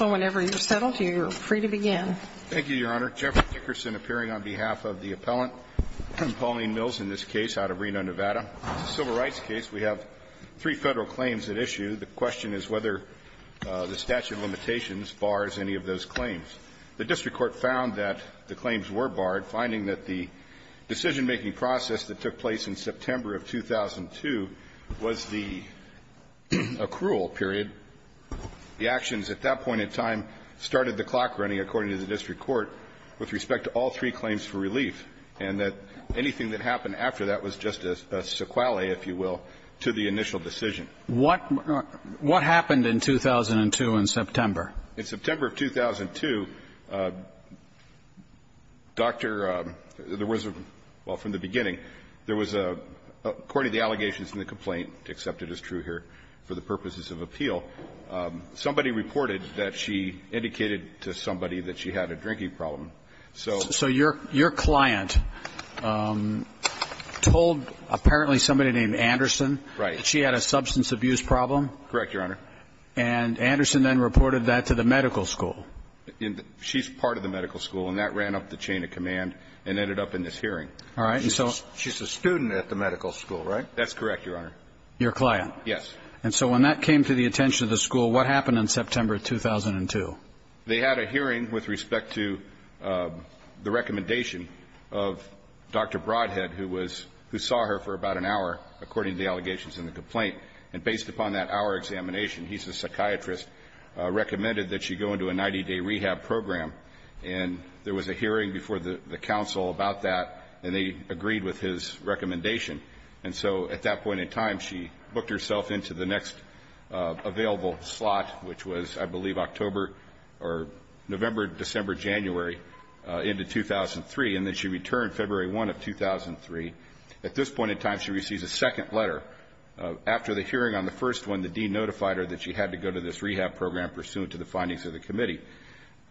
whenever you're settled, you're free to begin. Thank you, Your Honor. Jeff Dickerson appearing on behalf of the appellant, Pauline Mills, in this case, out of Reno, Nevada. This is a civil rights case. We have three Federal claims at issue. The question is whether the statute of limitations bars any of those claims. The district court found that the claims were barred, finding that the decision-making process that took place in September of 2002 was the accrual period. The actions at that point in time started the clock running, according to the district court, with respect to all three claims for relief, and that anything that happened after that was just a sequelae, if you will, to the initial decision. What happened in 2002 in September? In September of 2002, Dr. — there was a — well, from the beginning, there was a — according to the allegations in the complaint, accepted as true here for the purposes of appeal, somebody reported that she indicated to somebody that she had a drinking problem. So — So your client told apparently somebody named Anderson that she had a substance abuse problem? Correct, Your Honor. And Anderson then reported that to the medical school? She's part of the medical school, and that ran up the chain of command and ended up in this hearing. All right. And so — She's a student at the medical school, right? That's correct, Your Honor. Your client? Yes. And so when that came to the attention of the school, what happened in September of 2002? They had a hearing with respect to the recommendation of Dr. Broadhead, who was — who saw her for about an hour, according to the allegations in the complaint. And based upon that hour examination, he's a psychiatrist, recommended that she go into a 90-day rehab program. And there was a hearing before the counsel about that, and they agreed with his recommendation. And so at that point in time, she booked herself into the next available slot, which was, I believe, October or November, December, January, into 2003. And then she returned February 1 of 2003. At this point in time, she receives a second letter. After the hearing on the first one, the dean notified her that she had to go to this rehab program pursuant to the findings of the committee.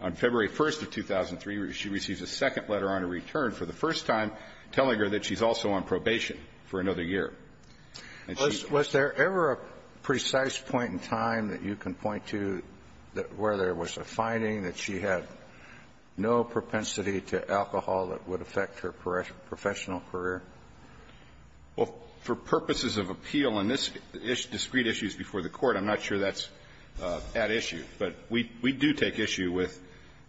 On February 1 of 2003, she receives a second letter on her return for the first time telling her that she's also on probation for another year. And she — Was there ever a precise point in time that you can point to where there was a finding that she had no propensity to alcohol that would affect her professional career? Well, for purposes of appeal, and this is discrete issues before the Court, I'm not sure that's at issue. But we do take issue with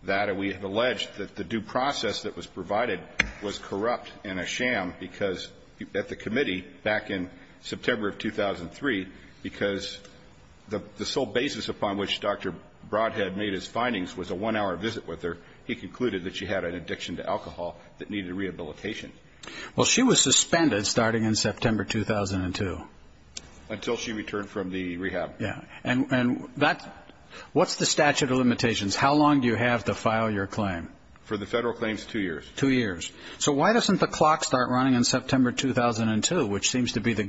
that. And we have alleged that the due process that was provided was corrupt and a sham because at the committee back in September of 2003, because the sole basis upon which Dr. Broadhead made his findings was a one-hour visit with her, he concluded that she had an addiction to alcohol that needed rehabilitation. Well, she was suspended starting in September 2002. Until she returned from the rehab. Yeah. And that — what's the statute of limitations? How long do you have to file your claim? For the federal claims, two years. Two years. So why doesn't the clock start running in September 2002, which seems to be the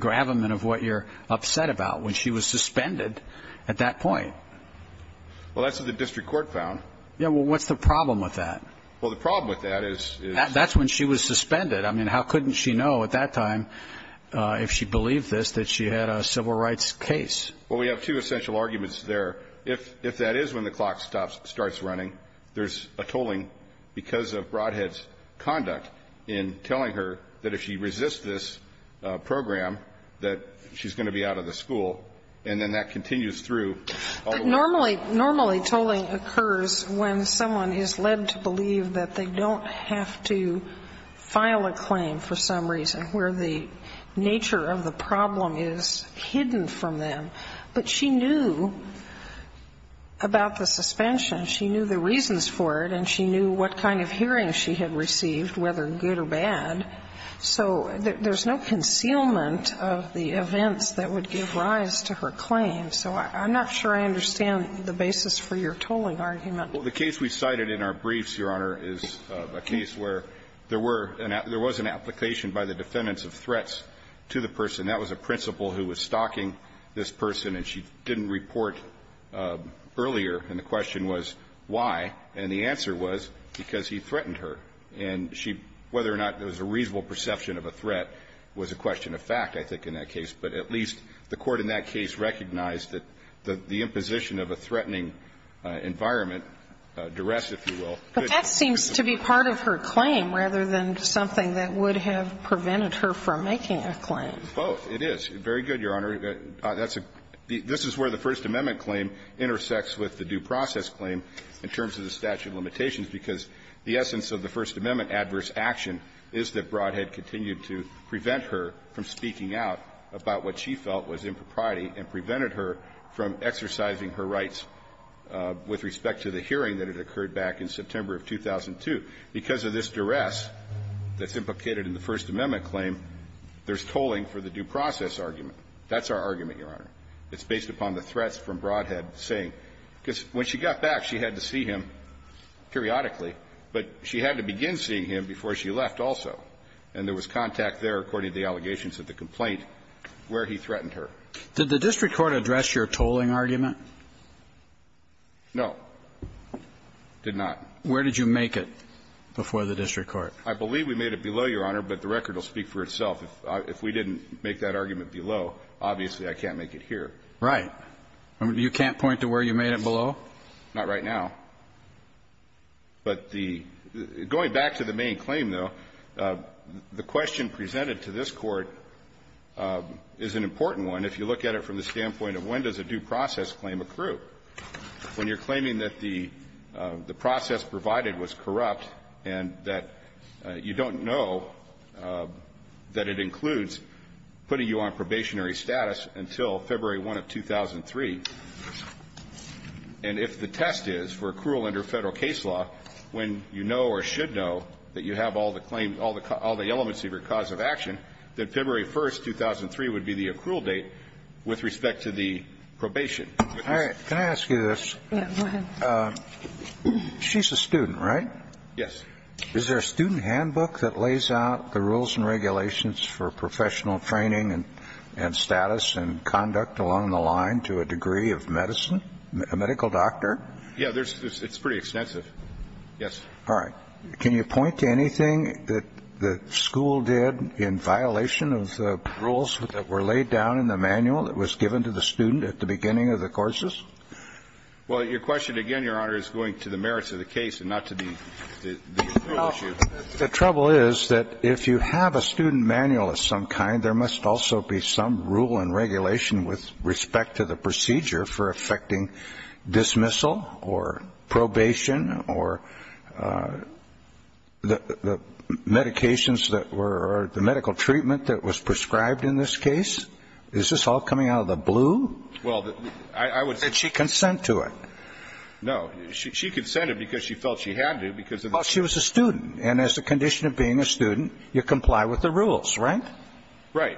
suspended at that point? Well, that's what the district court found. Yeah, well, what's the problem with that? Well, the problem with that is — That's when she was suspended. I mean, how couldn't she know at that time, if she believed this, that she had a civil rights case? Well, we have two essential arguments there. If that is when the clock starts running, there's a tolling because of Broadhead's conduct in telling her that if she resists this program, that she's going to be out of the school. And then that continues through. But normally — normally tolling occurs when someone is led to believe that they don't have to file a claim for some reason, where the nature of the problem is hidden from them. But she knew about the suspension. She knew the reasons for it. And she knew what kind of hearing she had received, whether good or bad. So there's no concealment of the events that would give rise to her claim. So I'm not sure I understand the basis for your tolling argument. Well, the case we cited in our briefs, Your Honor, is a case where there were — there was an application by the defendants of threats to the person. That was a principal who was stalking this person. And she didn't report earlier. And the question was why. And the answer was because he threatened her. And she — whether or not there was a reasonable perception of a threat was a question of fact, I think, in that case. But at least the Court in that case recognized that the imposition of a threatening environment, duress, if you will, could be the reason. But that seems to be part of her claim rather than something that would have prevented her from making a claim. Both. It is. Very good, Your Honor. That's a — this is where the First Amendment claim intersects with the due process claim in terms of the statute of limitations, because the essence of the First Amendment adverse action is that Brodhead continued to prevent her from speaking out about what she felt was impropriety and prevented her from exercising her rights with respect to the hearing that had occurred back in September of 2002. Because of this duress that's implicated in the First Amendment claim, there's tolling for the due process argument. That's our argument, Your Honor. It's based upon the threats from Brodhead saying — because when she got back, she had to see him periodically, but she had to begin seeing him before she left also. And there was contact there, according to the allegations of the complaint, where he threatened her. Did the district court address your tolling argument? No. Did not. Where did you make it before the district court? I believe we made it below, Your Honor, but the record will speak for itself. If we didn't make that argument below, obviously, I can't make it here. Right. You can't point to where you made it below? Not right now. But the — going back to the main claim, though, the question presented to this Court is an important one if you look at it from the standpoint of when does a due process claim accrue. When you're claiming that the process provided was corrupt and that you don't know that it includes putting you on probationary status until February 1 of 2003. And if the test is for accrual under Federal case law, when you know or should know that you have all the claims, all the elements of your cause of action, that February 1, 2003 would be the accrual date with respect to the probation. All right. Can I ask you this? Yes. Go ahead. She's a student, right? Yes. Is there a student handbook that lays out the rules and regulations for professional training and status and conduct along the line to a degree of medicine, a medical doctor? Yeah. It's pretty extensive. Yes. All right. Can you point to anything that the school did in violation of the rules that were laid down in the manual that was given to the student at the beginning of the courses? Well, your question again, Your Honor, is going to the merits of the case and not to the issue. The trouble is that if you have a student manual of some kind, there must also be some rule and regulation with respect to the procedure for effecting dismissal or probation or the medications that were or the medical treatment that was prescribed in this case. Is this all coming out of the blue? Well, I would say. Did she consent to it? No. She consented because she felt she had to because of the. Well, she was a student. And as a condition of being a student, you comply with the rules, right? Right.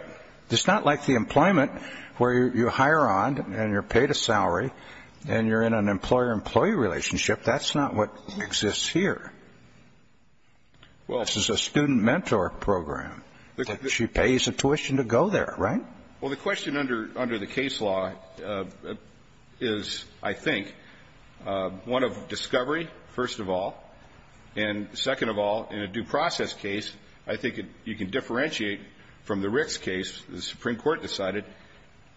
It's not like the employment where you hire on and you're paid a salary and you're in an employer-employee relationship. That's not what exists here. Well. This is a student mentor program. She pays a tuition to go there, right? Well, the question under the case law is, I think, one of discovery, first of all, and second of all, in a due process case, I think you can differentiate from the Ricks case. The Supreme Court decided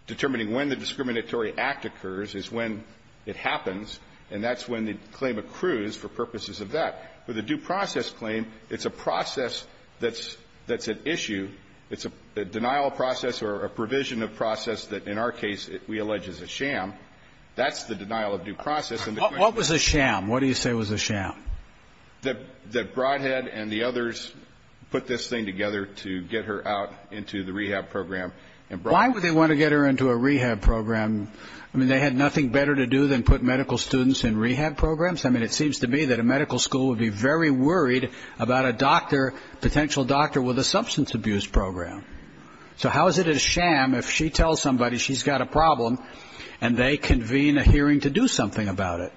determining when the discriminatory act occurs is when it happens, and that's when the claim accrues for purposes of that. With a due process claim, it's a process that's at issue. It's a denial of process or a provision of process that, in our case, we allege is a sham. That's the denial of due process. What was a sham? What do you say was a sham? That Broadhead and the others put this thing together to get her out into the rehab program. Why would they want to get her into a rehab program? I mean, they had nothing better to do than put medical students in rehab programs. I mean, it seems to me that a medical school would be very worried about a doctor, a potential doctor with a substance abuse program. So how is it a sham if she tells somebody she's got a problem and they convene a hearing to do something about it?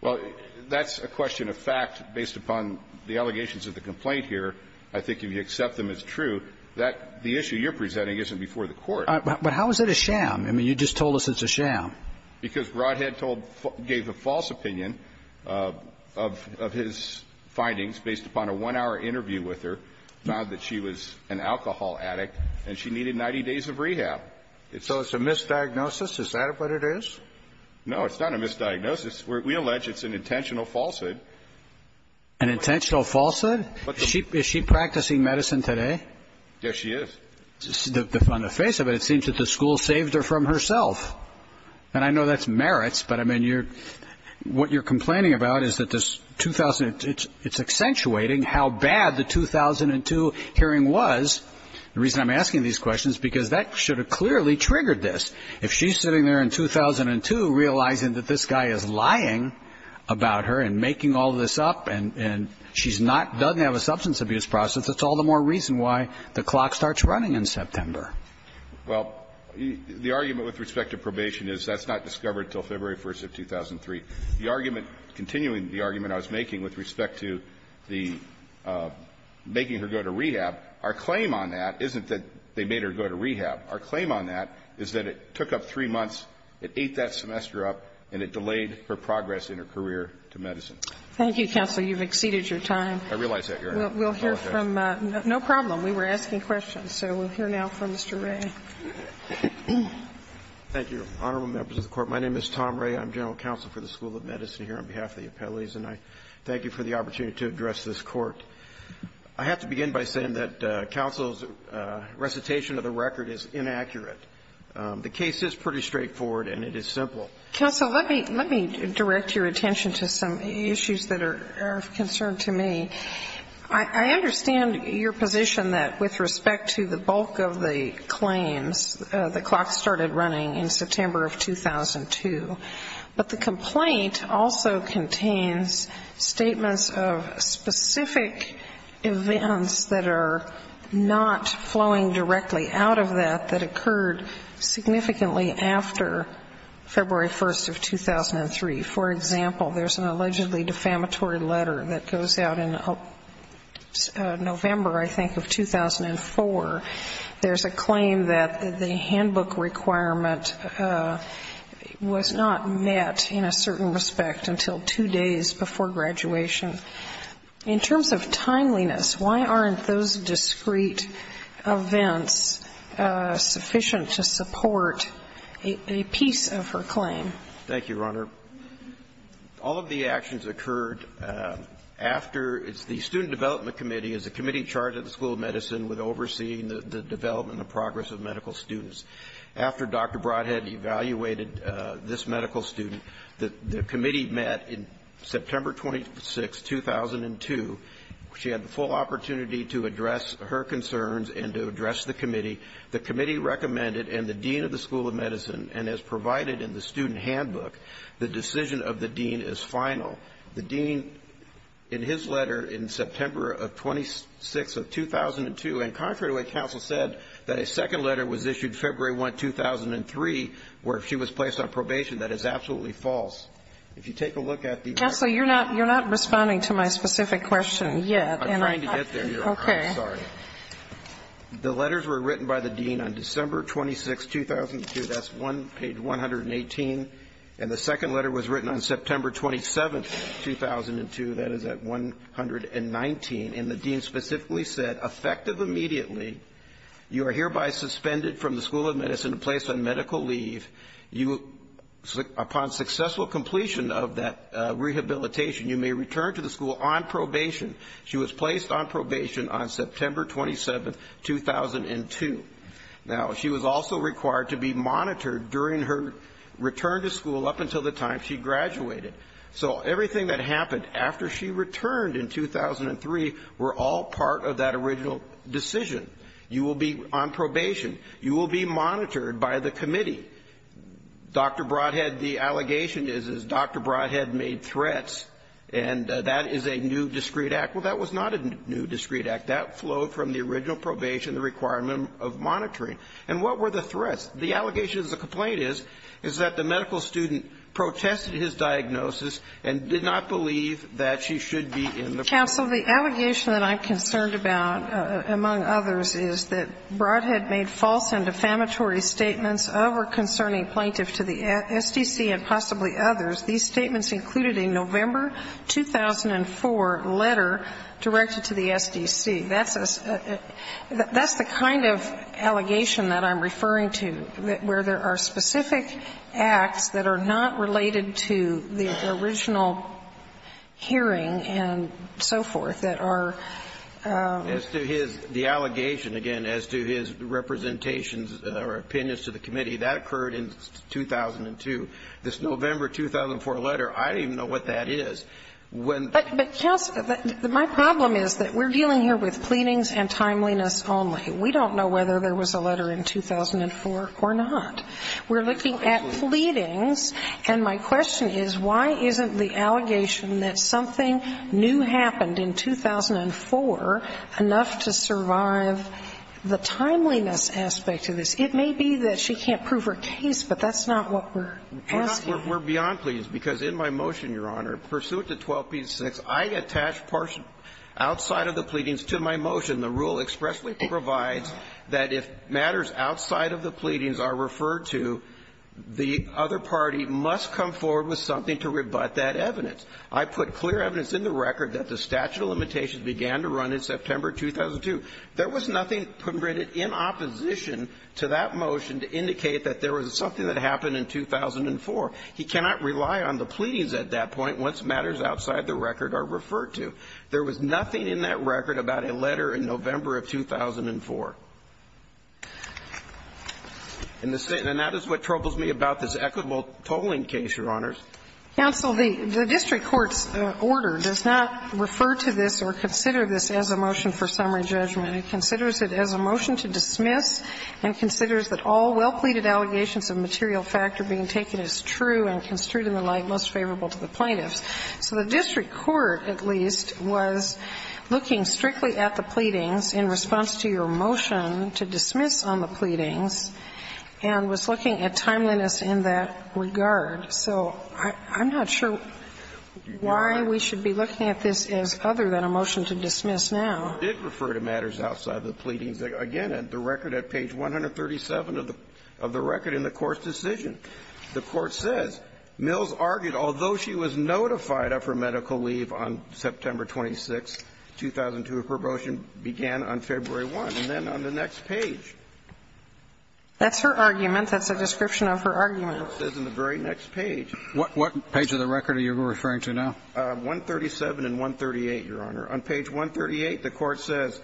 Well, that's a question of fact based upon the allegations of the complaint here. I think if you accept them as true, that the issue you're presenting isn't before the Court. But how is it a sham? I mean, you just told us it's a sham. Because Broadhead gave a false opinion of his findings based upon a one-hour interview with her, found that she was an alcohol addict and she needed 90 days of rehab. So it's a misdiagnosis? Is that what it is? No, it's not a misdiagnosis. We allege it's an intentional falsehood. An intentional falsehood? Is she practicing medicine today? Yes, she is. On the face of it, it seems that the school saved her from herself. And I know that's merits, but, I mean, you're – what you're complaining about is that this – it's accentuating how bad the 2002 hearing was. The reason I'm asking these questions is because that should have clearly triggered this. If she's sitting there in 2002 realizing that this guy is lying about her and making all this up and she's not – doesn't have a substance abuse process, that's all the more reason why the clock starts running in September. Well, the argument with respect to probation is that's not discovered until February 1st of 2003. The argument – continuing the argument I was making with respect to the – making her go to rehab, our claim on that isn't that they made her go to rehab. Our claim on that is that it took up three months, it ate that semester up, and it delayed her progress in her career to medicine. Thank you, counsel. You've exceeded your time. I realize that, Your Honor. We'll hear from – no problem. We were asking questions, so we'll hear now from Mr. Ray. Thank you, Honorable Members of the Court. My name is Tom Ray. I'm general counsel for the School of Medicine here on behalf of the appellees, and I thank you for the opportunity to address this court. I have to begin by saying that counsel's recitation of the record is inaccurate. The case is pretty straightforward and it is simple. Counsel, let me – let me direct your attention to some issues that are of concern to me. I understand your position that with respect to the bulk of the claims, the clock started running in September of 2002. But the complaint also contains statements of specific events that are not flowing directly out of that that occurred significantly after February 1st of 2003. For example, there's an allegedly defamatory letter that goes out in November, I think, of 2004. There's a claim that the handbook requirement was not met in a certain respect until two days before graduation. In terms of timeliness, why aren't those discrete events sufficient to support a piece of her claim? Thank you, Your Honor. All of the actions occurred after the Student Development Committee is a committee charged at the School of Medicine with overseeing the development and progress of medical students. After Dr. Brodhead evaluated this medical student, the committee met in September 26, 2002. She had the full opportunity to address her concerns and to address the committee. The committee recommended in the dean of the School of Medicine, and as provided in the student handbook, the decision of the dean is final. The dean, in his letter in September 26, 2002, and contrary to what counsel said, that a second letter was issued February 1, 2003, where she was placed on probation, that is absolutely false. If you take a look at the record. Counsel, you're not responding to my specific question yet. I'm trying to get there, Your Honor. Okay. I'm sorry. The letters were written by the dean on December 26, 2002. That's page 118. And the second letter was written on September 27, 2002. That is at 119. And the dean specifically said, effective immediately, you are hereby suspended from the School of Medicine and placed on medical leave. Upon successful completion of that rehabilitation, you may return to the school on probation. She was placed on probation on September 27, 2002. Now, she was also required to be monitored during her return to school up until the time she graduated. So everything that happened after she returned in 2003 were all part of that original decision. You will be on probation. You will be monitored by the committee. Dr. Broadhead, the allegation is, is Dr. Broadhead made threats, and that is a new discrete act. Well, that was not a new discrete act. That flowed from the original probation, the requirement of monitoring. And what were the threats? The allegation is, the complaint is, is that the medical student protested his diagnosis and did not believe that she should be in the program. Counsel, the allegation that I'm concerned about, among others, is that Broadhead made false and defamatory statements over concerning plaintiffs to the SDC and possibly included a November 2004 letter directed to the SDC. That's a the kind of allegation that I'm referring to, where there are specific acts that are not related to the original hearing and so forth that are. As to his, the allegation, again, as to his representations or opinions to the committee, that occurred in 2002. This November 2004 letter, I don't even know what that is. But, Counsel, my problem is that we're dealing here with pleadings and timeliness only. We don't know whether there was a letter in 2004 or not. We're looking at pleadings, and my question is, why isn't the allegation that something new happened in 2004 enough to survive the timeliness aspect of this? It may be that she can't prove her case, but that's not what we're asking. We're beyond pleadings. Because in my motion, Your Honor, pursuant to 12b-6, I attach partial outside of the pleadings to my motion. The rule expressly provides that if matters outside of the pleadings are referred to, the other party must come forward with something to rebut that evidence. I put clear evidence in the record that the statute of limitations began to run in September 2002. There was nothing printed in opposition to that motion to indicate that there was something that happened in 2004. He cannot rely on the pleadings at that point once matters outside the record are referred to. There was nothing in that record about a letter in November of 2004. And that is what troubles me about this equitable tolling case, Your Honors. Counsel, the district court's order does not refer to this or consider this as a motion for summary judgment. It considers it as a motion to dismiss and considers that all well-pleaded allegations of material fact are being taken as true and construed in the light most favorable to the plaintiffs. So the district court, at least, was looking strictly at the pleadings in response to your motion to dismiss on the pleadings and was looking at timeliness in that regard. So I'm not sure why we should be looking at this as other than a motion to dismiss now. The district court did refer to matters outside the pleadings. Again, at the record, at page 137 of the record in the court's decision, the court says Mills argued, although she was notified of her medical leave on September 26th, 2002, her promotion began on February 1st. And then on the next page. That's her argument. That's a description of her argument. It says in the very next page. What page of the record are you referring to now? 137 and 138, Your Honor. On page 138, the court says,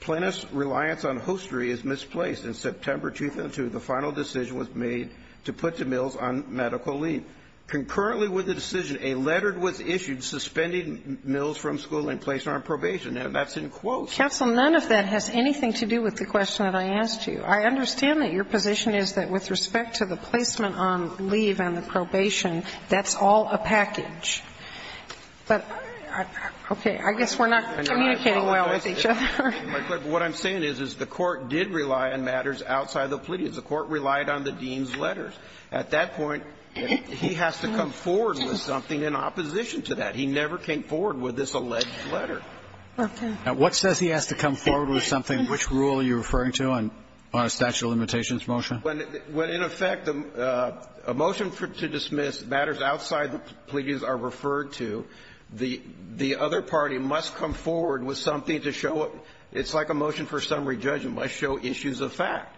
Plaintiff's reliance on hostry is misplaced. In September 2002, the final decision was made to put to Mills on medical leave. Concurrently with the decision, a letter was issued suspending Mills from school and placing her on probation. And that's in quotes. Counsel, none of that has anything to do with the question that I asked you. I understand that your position is that with respect to the placement on leave and the probation, that's all a package. But, okay, I guess we're not communicating well with each other. What I'm saying is, is the court did rely on matters outside the plea. The court relied on the dean's letters. At that point, he has to come forward with something in opposition to that. He never came forward with this alleged letter. Okay. Now, what says he has to come forward with something? Which rule are you referring to on a statute of limitations motion? Well, in effect, a motion to dismiss matters outside the pleas are referred to. The other party must come forward with something to show it's like a motion for summary judgment, must show issues of fact.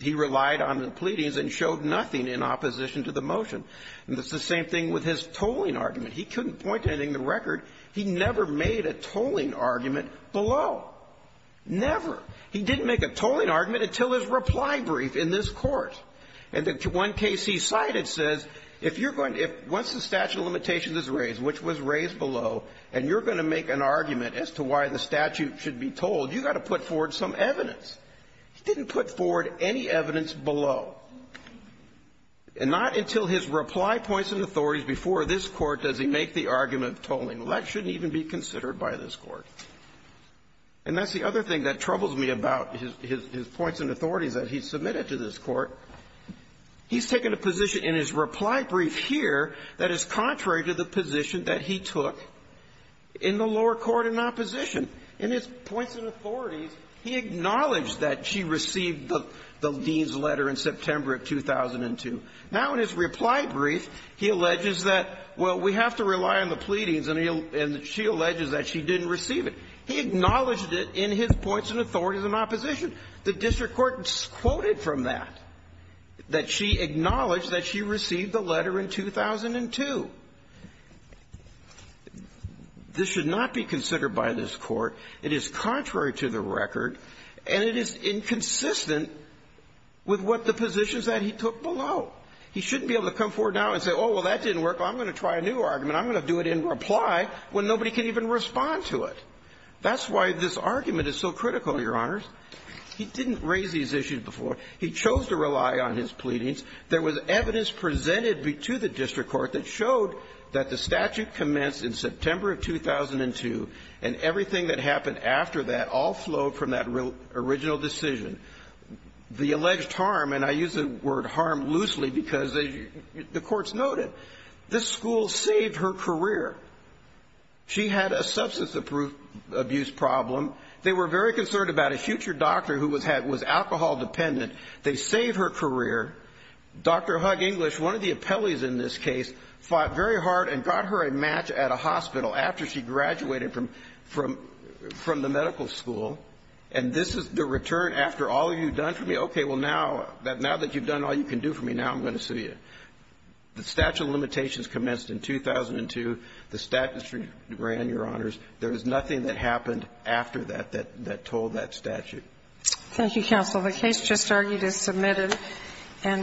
He relied on the pleadings and showed nothing in opposition to the motion. And it's the same thing with his tolling argument. He couldn't point to anything in the record. He never made a tolling argument below. Never. He didn't make a tolling argument until his reply brief in this Court. And the one case he cited says, if you're going to – once the statute of limitations is raised, which was raised below, and you're going to make an argument as to why the statute should be tolled, you've got to put forward some evidence. He didn't put forward any evidence below. And not until his reply points and authorities before this Court does he make the argument of tolling. Well, that shouldn't even be considered by this Court. And that's the other thing that troubles me about his points and authorities that he submitted to this Court. He's taken a position in his reply brief here that is contrary to the position that he took in the lower court in opposition. In his points and authorities, he acknowledged that she received the Dean's letter in September of 2002. Now, in his reply brief, he alleges that, well, we have to rely on the pleadings, and he – and she alleges that she didn't receive it. He acknowledged it in his points and authorities in opposition. The district court quoted from that, that she acknowledged that she received the letter in 2002. This should not be considered by this Court. It is contrary to the record, and it is inconsistent with what the positions that he took below. He shouldn't be able to come forward now and say, oh, well, that didn't work. I'm going to try a new argument. I'm going to do it in reply when nobody can even respond to it. That's why this argument is so critical, Your Honors. He didn't raise these issues before. He chose to rely on his pleadings. There was evidence presented to the district court that showed that the statute commenced in September of 2002, and everything that happened after that all flowed from that original decision. The alleged harm – and I use the word harm loosely because the Court's noted this school saved her career. She had a substance abuse problem. They were very concerned about a future doctor who was alcohol dependent. They saved her career. Dr. Hug English, one of the appellees in this case, fought very hard and got her a match at a hospital after she graduated from the medical school. And this is the return after all you've done for me? Okay, well, now that you've done all you can do for me, now I'm going to sue you. The statute of limitations commenced in 2002. The statute ran, Your Honors. There was nothing that happened after that that told that statute. Thank you, counsel. The case just argued is submitted.